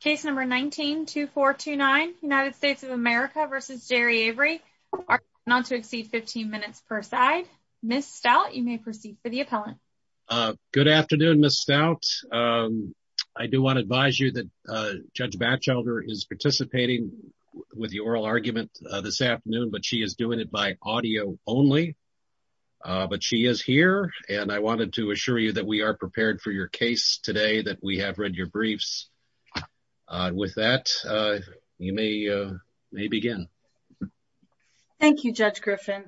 case number 192429 United States of America versus Gerri Avery are going on to exceed 15 minutes per side. Ms. Stout, you may proceed for the appellant. Good afternoon, Ms. Stout. I do want to advise you that Judge Batchelder is participating with the oral argument this afternoon, but she is doing it by audio only. But she is here, and I wanted to assure you that we are prepared for your case today that we have read your briefs. With that, you may begin. Thank you, Judge Griffin,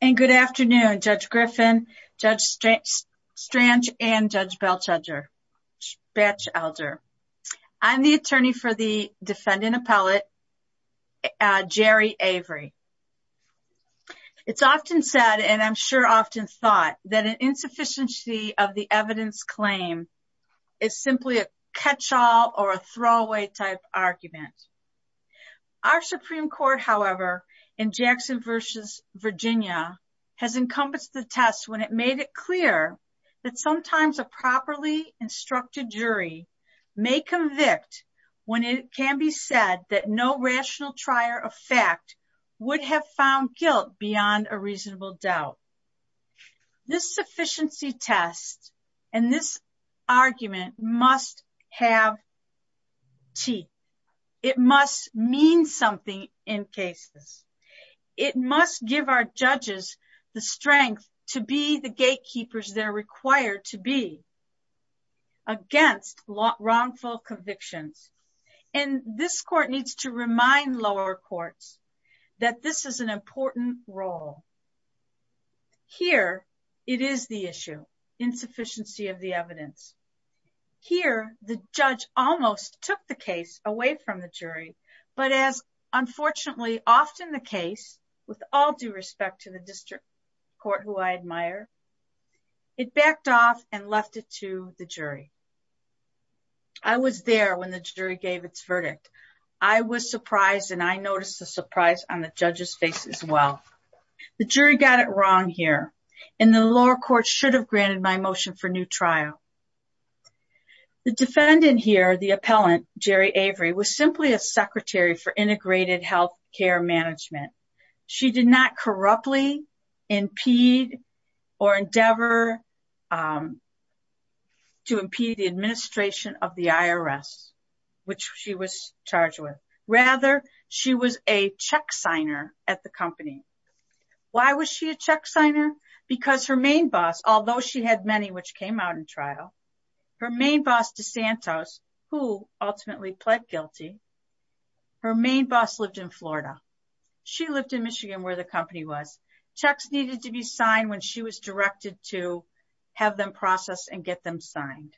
and good afternoon, Judge Griffin, Judge Strange, and Judge Batchelder. I'm the attorney for the defendant appellate, Gerri Avery. It's often said, and I'm sure often thought, that an insufficiency of the evidence claim is simply a catch-all or a throwaway type argument. Our Supreme Court, however, in Jackson v. Virginia has encompassed the test when it made it clear that sometimes a properly instructed jury may convict when it can be said that no This sufficiency test and this argument must have tea. It must mean something in cases. It must give our judges the strength to be the gatekeepers they're required to be against wrongful convictions. And this court needs to remind lower courts that this is an it is the issue, insufficiency of the evidence. Here, the judge almost took the case away from the jury, but as unfortunately often the case, with all due respect to the district court who I admire, it backed off and left it to the jury. I was there when the jury gave its verdict. I was surprised, and I noticed the surprise on the judge's face as well. The jury got it wrong here, and the lower court should have granted my motion for new trial. The defendant here, the appellant, Geri Avery, was simply a secretary for integrated health care management. She did not corruptly impede or endeavor to impede the administration of the IRS, which she was charged with. Rather, she was a check signer at the company. Why was she a check signer? Because her main boss, although she had many which came out in trial, her main boss DeSantos, who ultimately pled guilty, her main boss lived in Florida. She lived in Michigan where the company was. Checks needed to be signed when she was directed to have them processed and get them signed.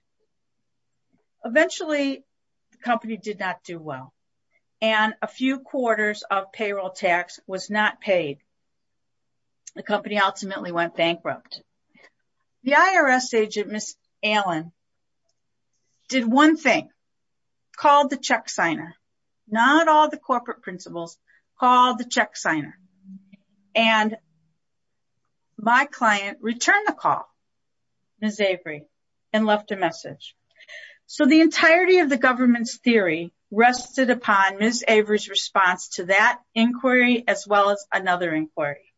Eventually, the company did not do well, and a few quarters of payroll tax was not paid. The company ultimately went bankrupt. The IRS agent, Ms. Allen, did one thing, called the check signer. Not all the corporate principals called the check signer. My client returned the call, Ms. Avery, and left a message. The entirety of the government's theory rested upon Ms. Avery's inquiry as well as another inquiry.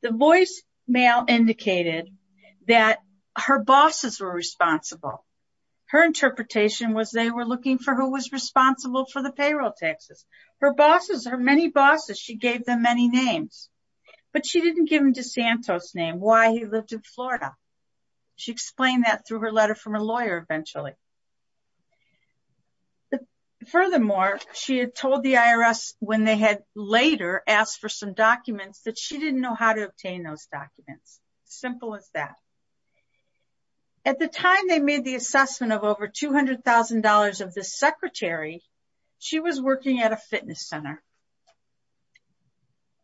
The voicemail indicated that her bosses were responsible. Her interpretation was they were looking for who was responsible for the payroll taxes. Her bosses, her many bosses, she gave them many names, but she did not give them DeSantos' name, why he lived in Florida. She explained that through her letter from a lawyer eventually. Furthermore, she had told the IRS when they had later asked for some documents that she didn't know how to obtain those documents. Simple as that. At the time they made the assessment of over $200,000 of the secretary, she was working at a fitness center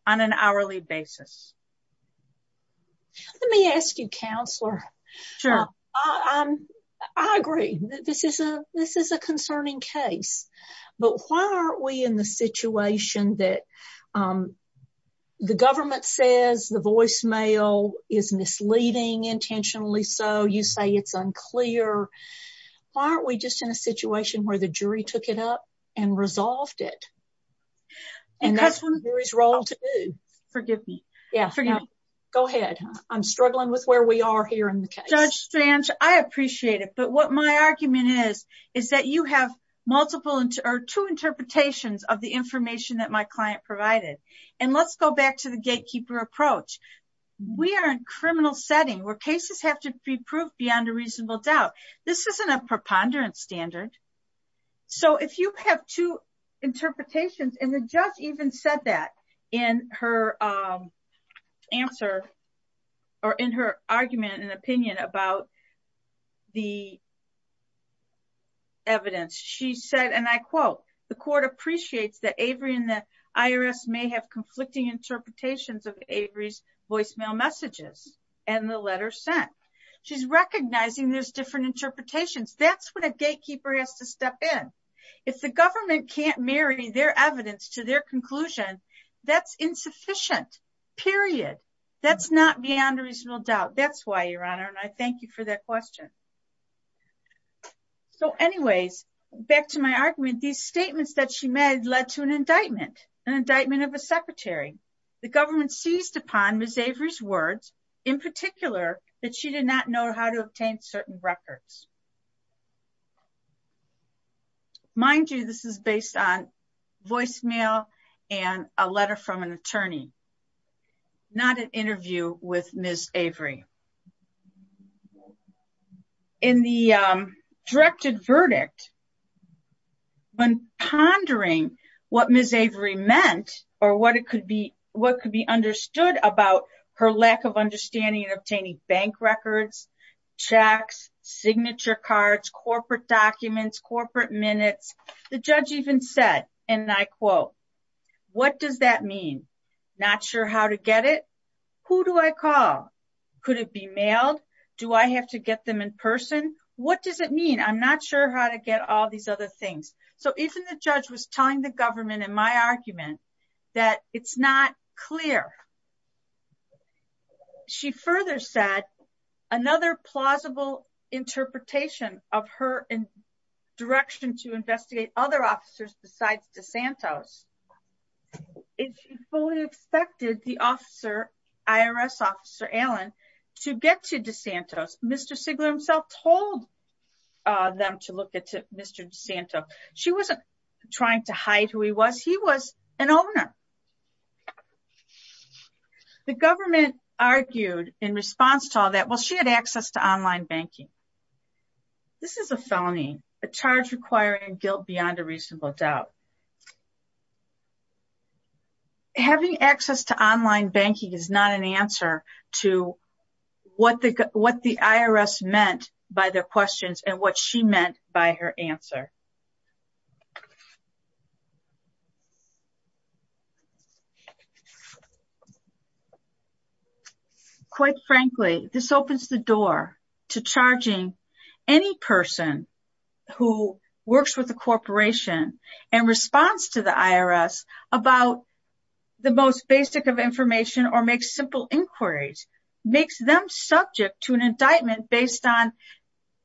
on an hourly basis. Let me ask you, counselor. Sure. I agree. This is a concerning case, but why aren't we in the situation that the government says the voicemail is misleading, intentionally so, you say it's unclear. Why aren't we just in a situation where the jury took it up and resolved it? And that's Avery's role to do. Forgive me. Go ahead. I'm struggling with where we are here in the case. Judge Strange, I appreciate it. But what my argument is, is that you have multiple or two interpretations of the information that my client provided. And let's go back to the gatekeeper approach. We are in a criminal setting where cases have to be proved beyond a reasonable doubt. This isn't a preponderance standard. So if you have two interpretations, and the judge even said that in her answer or in her argument and opinion about the evidence. She said, and I quote, the court appreciates that Avery and the IRS may have conflicting interpretations of Avery's voicemail messages and the letter sent. She's recognizing there's different interpretations. That's when a gatekeeper has to step in. If the government can't marry their evidence to their conclusion, that's insufficient, period. That's not beyond a reasonable doubt. That's why, Your Honor. And I thank you for that question. So anyways, back to my argument, these statements that she made led to an indictment, an indictment of a secretary. The government seized upon Ms. Avery's words, in particular, that she did not know how to obtain certain records. Mind you, this is based on voicemail and a letter from an attorney, not an interview with Ms. Avery. In the directed verdict, when pondering what Ms. Avery meant, or what it could be, about her lack of understanding of obtaining bank records, checks, signature cards, corporate documents, corporate minutes, the judge even said, and I quote, what does that mean? Not sure how to get it? Who do I call? Could it be mailed? Do I have to get them in person? What does it mean? I'm not sure how to get all these other things. So even the judge was telling the government, in my argument, that it's not clear. She further said another plausible interpretation of her direction to investigate other officers besides DeSantos is she fully expected the officer, IRS officer Allen, to get to DeSantos. Mr. Sigler himself told them to look at Mr. DeSantos. She wasn't trying to hide who he was. He was an owner. The government argued in response to all that, well, she had access to online banking. This is a felony, a charge requiring guilt beyond a reasonable doubt. So having access to online banking is not an answer to what the IRS meant by their questions and what she meant by her answer. Quite frankly, this opens the door to charging any person who works with a corporation in response to the IRS about the most basic of information or makes simple inquiries, makes them subject to an indictment based on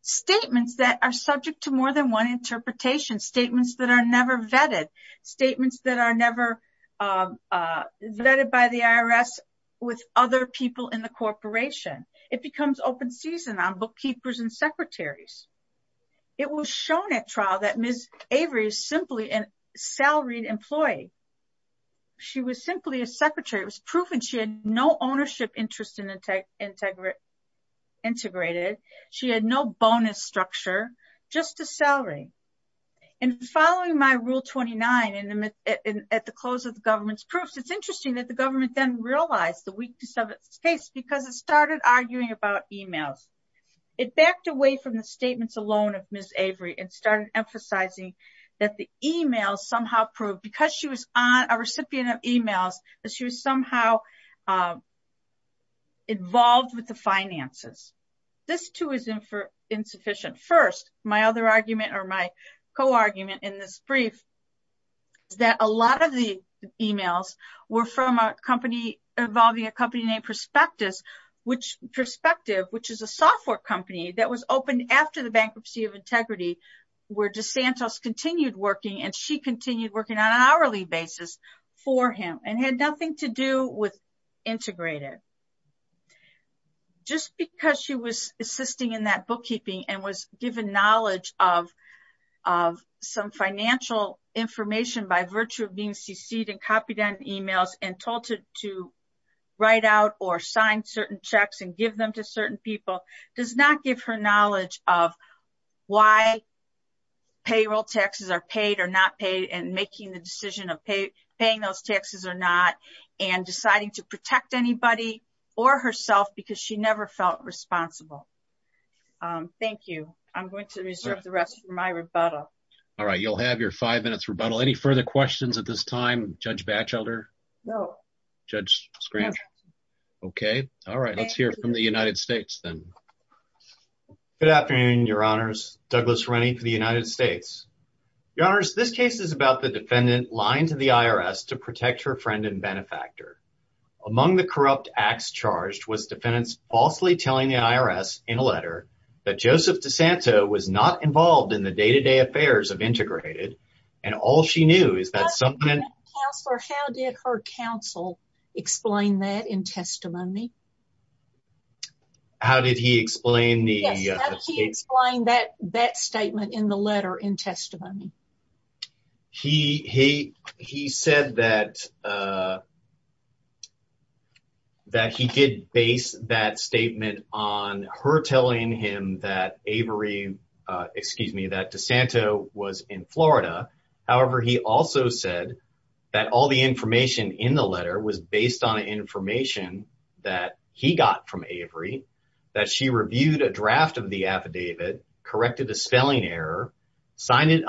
statements that are subject to more than one interpretation, statements that are never vetted, statements that are never vetted by the IRS with other people in the corporation. It becomes open season on bookkeepers and secretaries. It was shown at trial that Ms. Avery is simply a salaried employee. She was simply a secretary. It was proven she had no ownership interest integrated. She had no bonus structure, just a salary. And following my Rule 29 at the close of the government's proofs, it's interesting that the government then realized the weakness of its case because it started arguing about emails. It backed away from the statements alone of Ms. Avery and started emphasizing that the emails somehow proved, because she was a recipient of emails, that she was somehow involved with the finances. This too is insufficient. First, my other argument or my co-argument in this brief is that a lot of the emails were from a company involving a company Prospectus, which Prospective, which is a software company that was opened after the bankruptcy of integrity, where DeSantos continued working and she continued working on an hourly basis for him and had nothing to do with integrated. Just because she was assisting in that bookkeeping and was given knowledge of some financial information by virtue of being seceded and emails and told to write out or sign certain checks and give them to certain people, does not give her knowledge of why payroll taxes are paid or not paid and making the decision of paying those taxes or not and deciding to protect anybody or herself because she never felt responsible. Thank you. I'm going to reserve the rest for my rebuttal. All right, you'll have your five minutes rebuttal. Any further questions at this time, Judge Batchelder? No. Judge Scranton? Okay, all right. Let's hear from the United States then. Good afternoon, your honors. Douglas Rennie for the United States. Your honors, this case is about the defendant lying to the IRS to protect her friend and benefactor. Among the corrupt acts charged was defendants falsely telling the IRS in a letter that Joseph DeSanto was not involved in the day-to-day affairs of and all she knew is that something... Counselor, how did her counsel explain that in testimony? How did he explain the... Yes, how did he explain that statement in the letter in testimony? He said that he did base that statement on her telling him that Avery, excuse me, that DeSanto was in Florida. However, he also said that all the information in the letter was based on information that he got from Avery, that she reviewed a draft of the affidavit, corrected a spelling error, signed it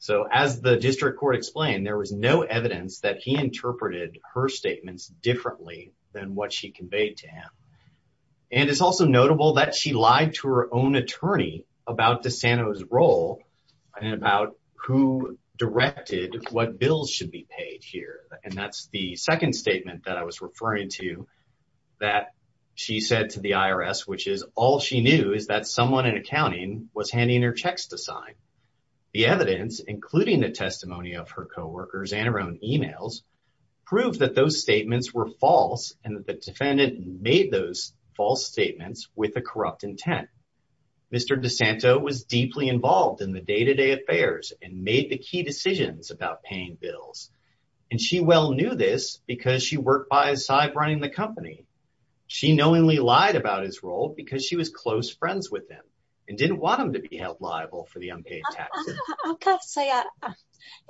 So, as the district court explained, there was no evidence that he interpreted her statements differently than what she conveyed to him. And it's also notable that she lied to her own attorney about DeSanto's role and about who directed what bills should be paid here. And that's the second statement that I was referring to that she said to the IRS, which is all she knew is that someone in The evidence, including the testimony of her co-workers and her own emails, proved that those statements were false and that the defendant made those false statements with a corrupt intent. Mr. DeSanto was deeply involved in the day-to-day affairs and made the key decisions about paying bills. And she well knew this because she worked by his side running the company. She knowingly lied about his role because she was close friends with him and didn't want him to be liable for the unpaid taxes.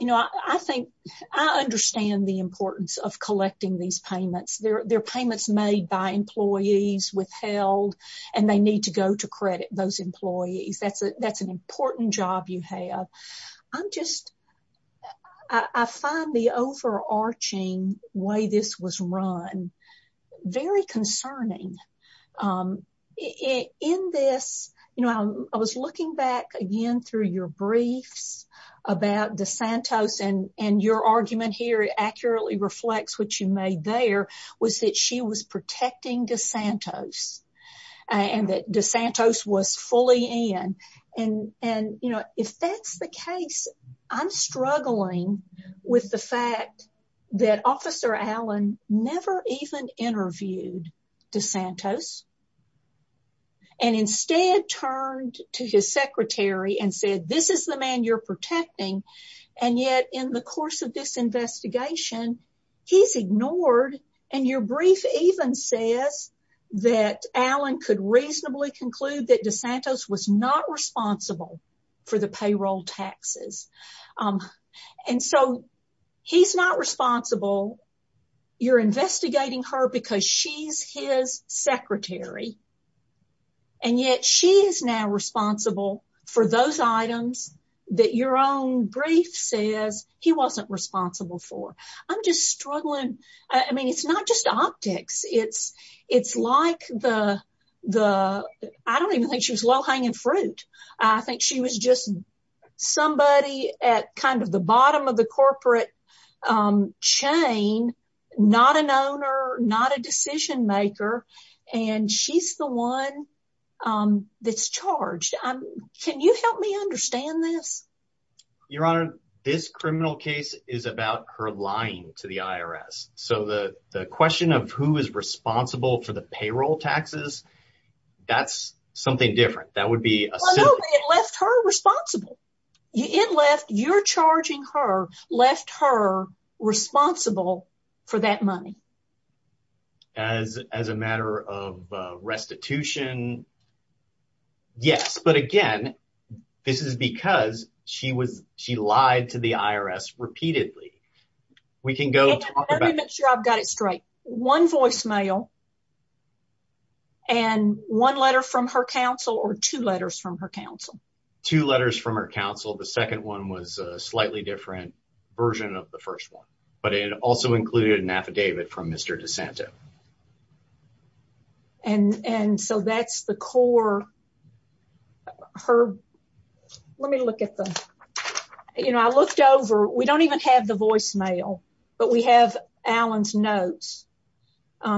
You know, I think I understand the importance of collecting these payments. They're payments made by employees withheld and they need to go to credit those employees. That's an important job you have. I'm just, I find the overarching way this was run very concerning. In this, you know, I was looking back again through your briefs about DeSanto's and your argument here accurately reflects what you made there was that she was protecting DeSanto's and that DeSanto's was fully in. And, you know, if that's the case, I'm struggling with the fact that Officer Allen never even interviewed DeSanto's and instead turned to his secretary and said, this is the man you're protecting. And yet in the course of this investigation, he's ignored. And your brief even says that Allen could reasonably conclude that DeSanto's was not responsible for the payroll taxes. And so he's not responsible. You're investigating her because she's his secretary. And yet she is now responsible for those items that your own brief says he wasn't responsible for. I'm just the, I don't even think she was low hanging fruit. I think she was just somebody at kind of the bottom of the corporate chain, not an owner, not a decision maker. And she's the one that's charged. Can you help me understand this? Your Honor, this criminal case is about her lying to the IRS. So the question of who is responsible for the payroll taxes, that's something different. That would be a... Well, no, it left her responsible. It left, you're charging her, left her responsible for that money. As a matter of restitution? Yes. But again, this is because she was, she lied to the IRS repeatedly. We can go... Let me make sure I've got it straight. One voicemail and one letter from her counsel or two letters from her counsel? Two letters from her counsel. The second one was a slightly different version of the first one, but it also included an affidavit from Mr. DeSanto. And so that's the core... Let me look at the... I looked over, we don't even have the voicemail, but we have Alan's notes.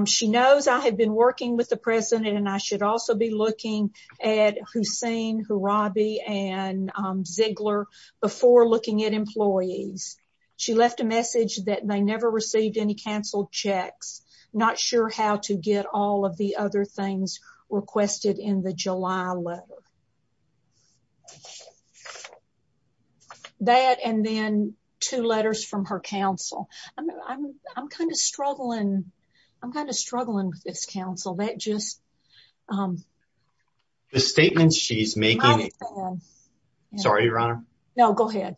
She knows I had been working with the president and I should also be looking at Hussein, Harabi, and Ziegler before looking at employees. She left a message that they never received any canceled checks, not sure how to get all of the other things requested in the July letter. That and then two letters from her counsel. I'm kind of struggling. I'm kind of struggling with this counsel. That just... The statements she's making... Sorry, Your Honor. No, go ahead.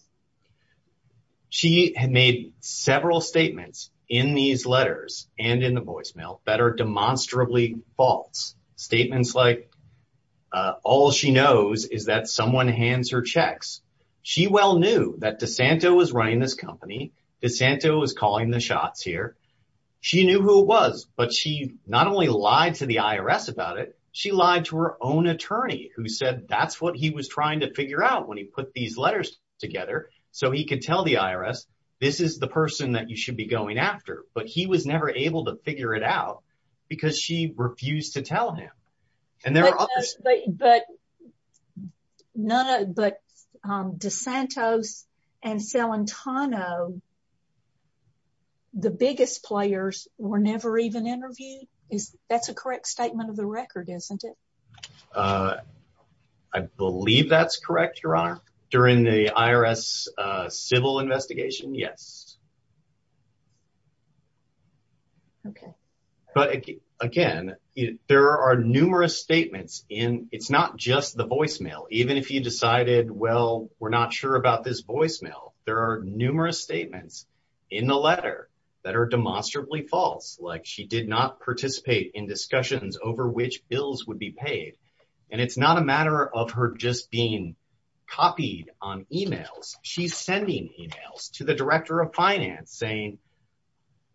She had made several statements in these letters and in the voicemail that are demonstrably false. Statements like, all she knows is that someone hands her checks. She well knew that DeSanto was running this company. DeSanto was calling the shots here. She knew who it was, but she not only lied to the IRS about it, she lied to her own attorney who said that's what he was doing. He was putting these letters together so he could tell the IRS this is the person that you should be going after, but he was never able to figure it out because she refused to tell him. But DeSantos and Celentano, the biggest players, were never even interviewed? That's a correct statement of the record, isn't it? Uh, I believe that's correct, Your Honor. During the IRS civil investigation, yes. Okay. But again, there are numerous statements in... It's not just the voicemail. Even if you decided, well, we're not sure about this voicemail, there are numerous statements in the letter that are demonstrably false, like she did not participate in discussions over which bills would be paid. And it's not a matter of her just being copied on emails. She's sending emails to the director of finance saying,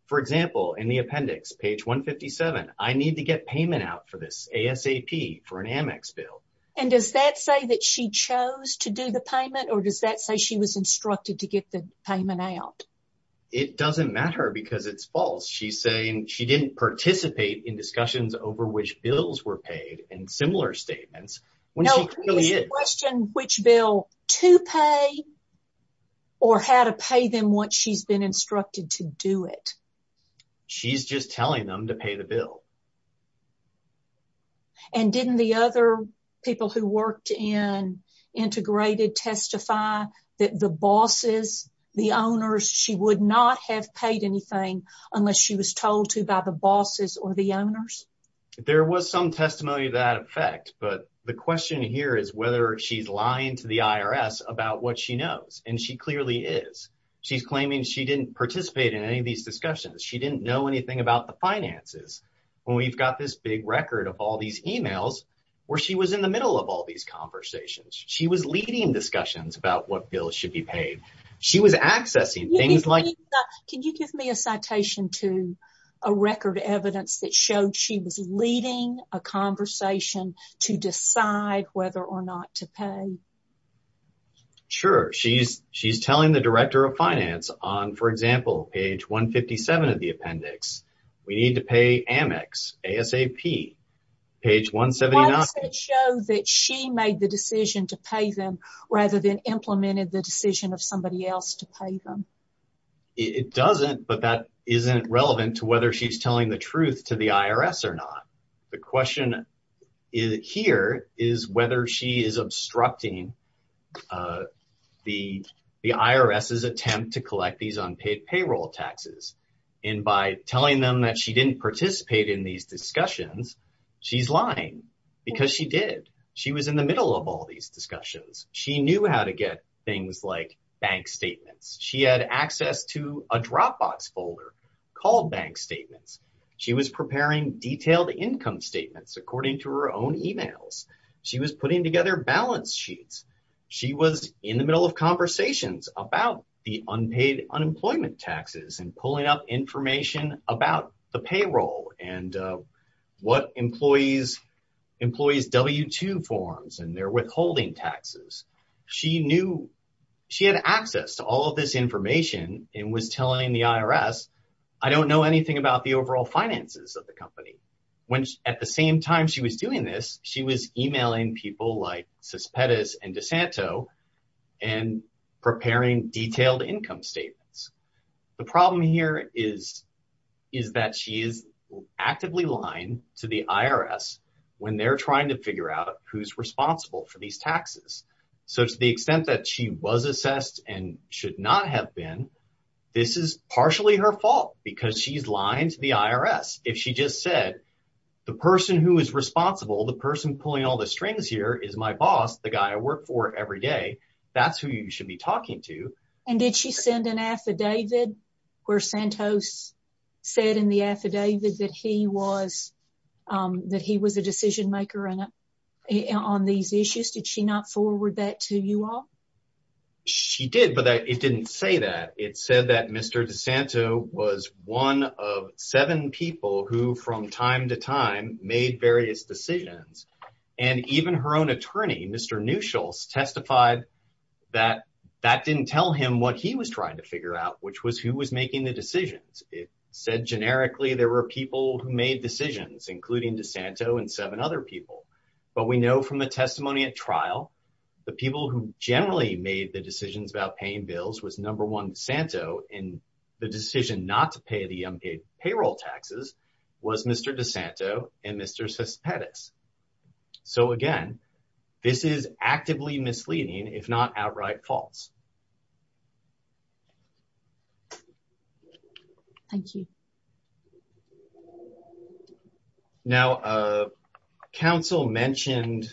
for example, in the appendix, page 157, I need to get payment out for this ASAP for an Amex bill. And does that say that she chose to do the payment or does that say she was instructed to get the payment out? It doesn't matter because it's false. She's saying she didn't participate in discussions over which bills were paid and similar statements when she clearly did. No, who is to question which bill to pay or how to pay them once she's been instructed to do it? She's just telling them to pay the bill. And didn't the other people who worked in Integrated testify that the bosses, the owners, she would not have paid anything unless she was told to by the bosses or the owners? There was some testimony to that effect. But the question here is whether she's lying to the IRS about what she knows. And she clearly is. She's claiming she didn't participate in any of these discussions. She didn't know anything about the finances when we've got this big record of all these emails where she was in the middle of all these conversations. She was leading discussions about what bills should be paid. She was accessing things like... Can you give me a citation to a record of evidence that showed she was leading a conversation to decide whether or not to pay? Sure. She's telling the director of finance on, for example, page 157 of the appendix, we need to pay Amex, ASAP, page 179. Does it show that she made the decision to pay them rather than implemented the decision of somebody else to pay them? It doesn't, but that isn't relevant to whether she's telling the truth to the IRS or not. The question here is whether she is obstructing the IRS's attempt to collect these unpaid payroll taxes. And by telling them that she didn't participate in these discussions, she's lying because she did. She was in the middle of all these discussions. She knew how to get things like bank statements. She had access to a Dropbox folder called bank statements. She was preparing detailed income statements according to her own emails. She was putting together balance sheets. She was in the middle of conversations about the employees' W-2 forms and their withholding taxes. She knew she had access to all of this information and was telling the IRS, I don't know anything about the overall finances of the company. At the same time she was doing this, she was emailing people like Cespedes and DeSanto and preparing detailed income statements. The problem here is that she is actively lying to the IRS when they're trying to figure out who's responsible for these taxes. So to the extent that she was assessed and should not have been, this is partially her fault because she's lying to the IRS. If she just said, the person who is responsible, the person pulling all the strings here is my boss, the guy I work for every day. That's who you should be talking to. And did she send an affidavit where Santos said in the affidavit that he was a decision maker on these issues? Did she not forward that to you all? She did, but it didn't say that. It said that Mr. DeSanto was one of seven people who from time to what he was trying to figure out, which was who was making the decisions. It said generically, there were people who made decisions, including DeSanto and seven other people. But we know from the testimony at trial, the people who generally made the decisions about paying bills was number one DeSanto and the decision not to pay the unpaid payroll taxes was Mr. DeSanto and Mr. Cespedes. So again, this is actively misleading, if not outright false. Thank you. Now, counsel mentioned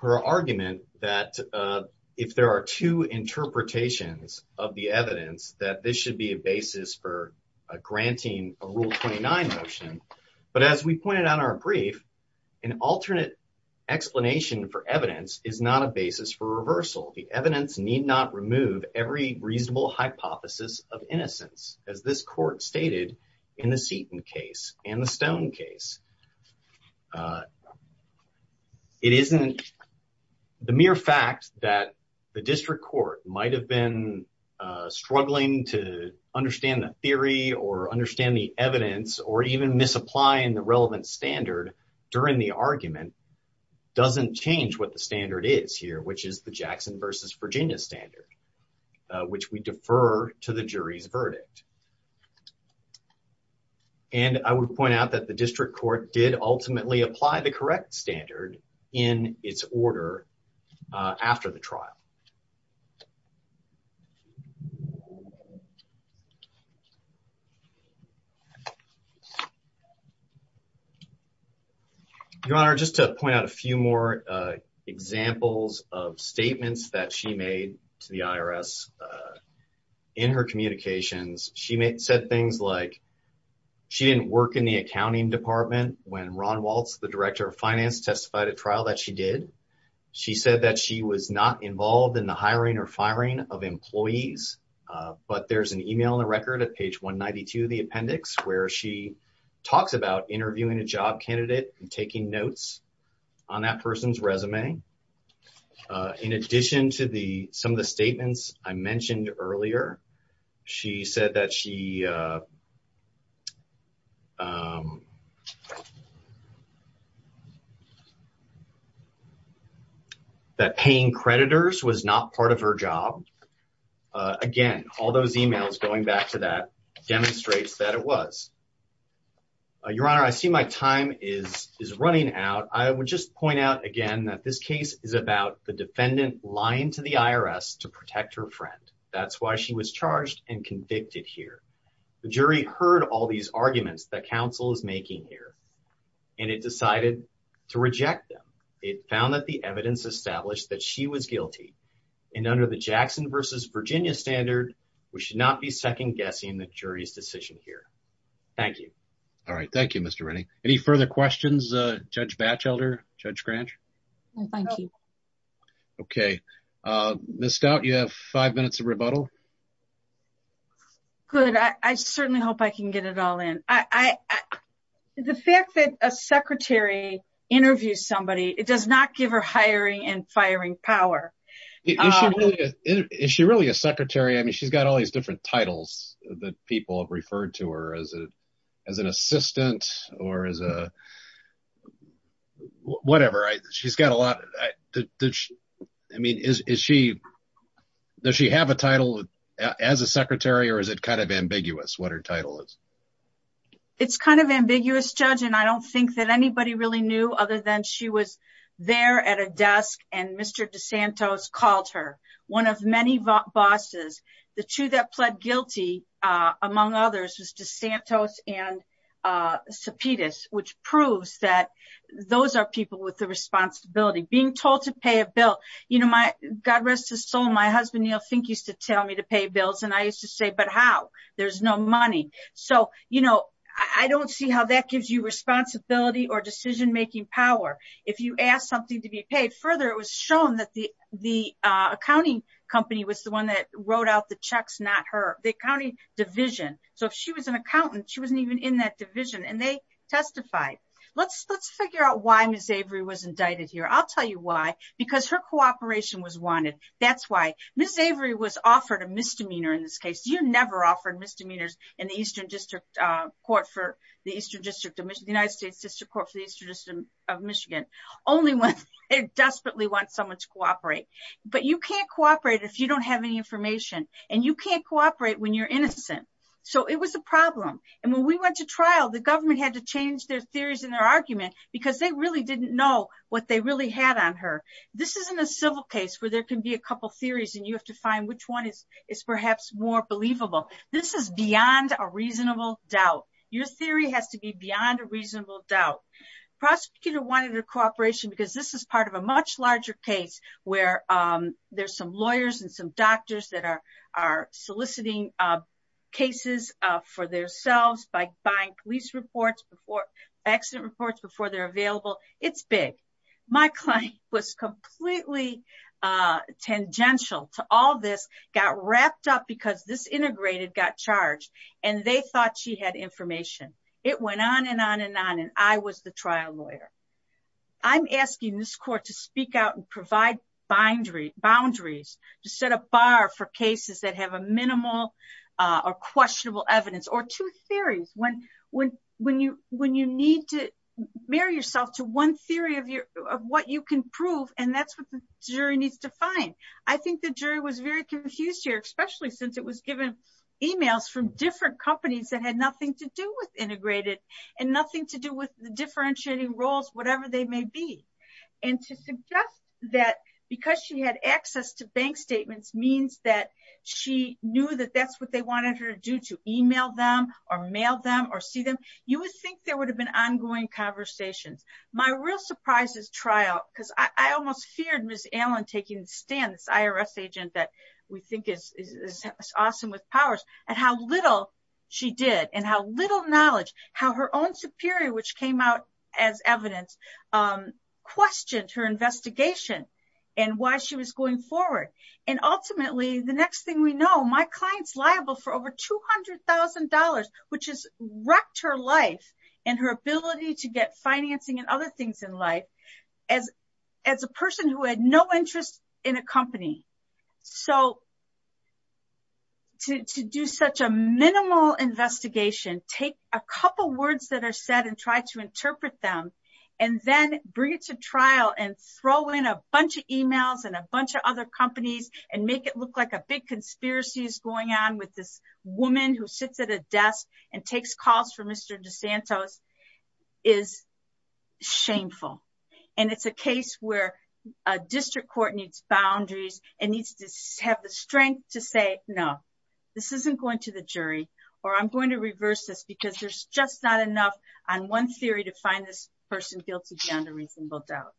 her argument that if there are two interpretations of the evidence that this should be a basis for granting a rule 29 motion. But as we pointed out in our brief, an alternate explanation for evidence is not a basis for reversal. The evidence need not remove every reasonable hypothesis of innocence, as this court stated in the Seton case and the Stone case. It isn't the mere fact that the district court might have been struggling to understand the theory or understand the evidence or even misapplying the relevant standard during the trial doesn't change what the standard is here, which is the Jackson versus Virginia standard, which we defer to the jury's verdict. And I would point out that the district court did ultimately apply the correct standard in its order after the trial. Your Honor, just to point out a few more examples of statements that she made to the IRS in her communications, she said things like she didn't work in the accounting department when Ron Waltz, the director of finance, testified at trial that she did. She said that she was not involved in the hiring of a new accountant. of employees. But there's an email in the record at page 192 of the appendix where she talks about interviewing a job candidate and taking notes on that person's resume. In addition to the some of the statements I mentioned earlier, she said that she said that paying creditors was not part of her job. Again, all those emails going back to that demonstrates that it was. Your Honor, I see my time is running out. I would just point out again that this case is about the defendant lying to the IRS to protect her friend. That's why she was charged and convicted here. The jury heard all these arguments that counsel is making here and it decided to reject them. It found that the evidence established that she was guilty and under the Jackson versus Virginia standard, we should not be second guessing the jury's decision here. Thank you. All right. Thank you, Mr. Rennie. Any further questions, Judge Batchelder, Judge Grange? No, thank you. Okay. Ms. Stout, you have five minutes of rebuttal. Good. I certainly hope I can get it all in. The fact that a secretary interviews somebody, it does not give her hiring and firing power. Is she really a secretary? I mean, she's got all these different titles that people have referred to her as an assistant or as a whatever. She's got a lot. I mean, does she have a title as a secretary or is it kind of ambiguous what her title is? It's kind of ambiguous, Judge, and I don't think that anybody really knew other than she was there at a desk and Mr. DeSantos called her. One of many bosses, the two that pled guilty, among others, was DeSantos and Sepedis, which proves that those are people with the responsibility. Being told to pay a bill. God rest his soul, my husband Neil Fink used to tell me to pay bills and I used to say, but how? There's no money. I don't see how that gives you responsibility or you ask something to be paid. Further, it was shown that the accounting company was the one that wrote out the checks, not her. The accounting division. So if she was an accountant, she wasn't even in that division and they testified. Let's figure out why Ms. Avery was indicted here. I'll tell you why. Because her cooperation was wanted. That's why. Ms. Avery was offered a misdemeanor in this case. You're never offered misdemeanors in the Eastern District Court for the Eastern District of Michigan, only when they desperately want someone to cooperate. But you can't cooperate if you don't have any information and you can't cooperate when you're innocent. So it was a problem. And when we went to trial, the government had to change their theories and their argument because they really didn't know what they really had on her. This isn't a civil case where there can be a couple of theories and you have to find which one is perhaps more believable. This is beyond a reasonable doubt. Your theory has to be beyond reasonable doubt. Prosecutor wanted her cooperation because this is part of a much larger case where there's some lawyers and some doctors that are soliciting cases for themselves by buying police reports, accident reports before they're available. It's big. My client was completely tangential to all this, got wrapped up because this integrator got charged and they thought she had information. It went on and on and on. And I was the trial lawyer. I'm asking this court to speak out and provide boundaries to set a bar for cases that have a minimal or questionable evidence or two theories. When you need to marry yourself to one theory of what you can prove, and that's what the jury needs to find. I think the jury was very confused here, since it was given emails from different companies that had nothing to do with integrated and nothing to do with the differentiating roles, whatever they may be. And to suggest that because she had access to bank statements means that she knew that that's what they wanted her to do, to email them or mail them or see them. You would think there would have been ongoing conversations. My real surprise is trial because I almost feared Ms. Allen taking this IRS agent that we think is awesome with powers and how little she did and how little knowledge, how her own superior, which came out as evidence, questioned her investigation and why she was going forward. And ultimately, the next thing we know, my client's liable for over $200,000, which has wrecked her life and her ability to get financing and other things in life as a person who had no interest in a company. So to do such a minimal investigation, take a couple words that are said and try to interpret them, and then bring it to trial and throw in a bunch of emails and a bunch of other companies and make it look like a big conspiracy is going on with this woman who sits at a desk and takes calls for Mr. DeSantos is shameful. And it's a case where a district court needs boundaries and needs to have the strength to say, no, this isn't going to the jury, or I'm going to reverse this because there's just not enough on one theory to find this person guilty beyond a reasonable doubt.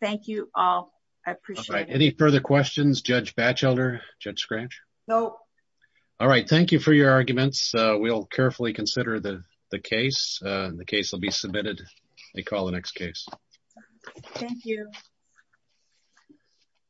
Thank you all. I appreciate it. Any further questions, Judge Batchelder, Judge Scratch? No. All right. Thank you for your arguments. We'll carefully consider the case. The case will be a call the next case. Thank you.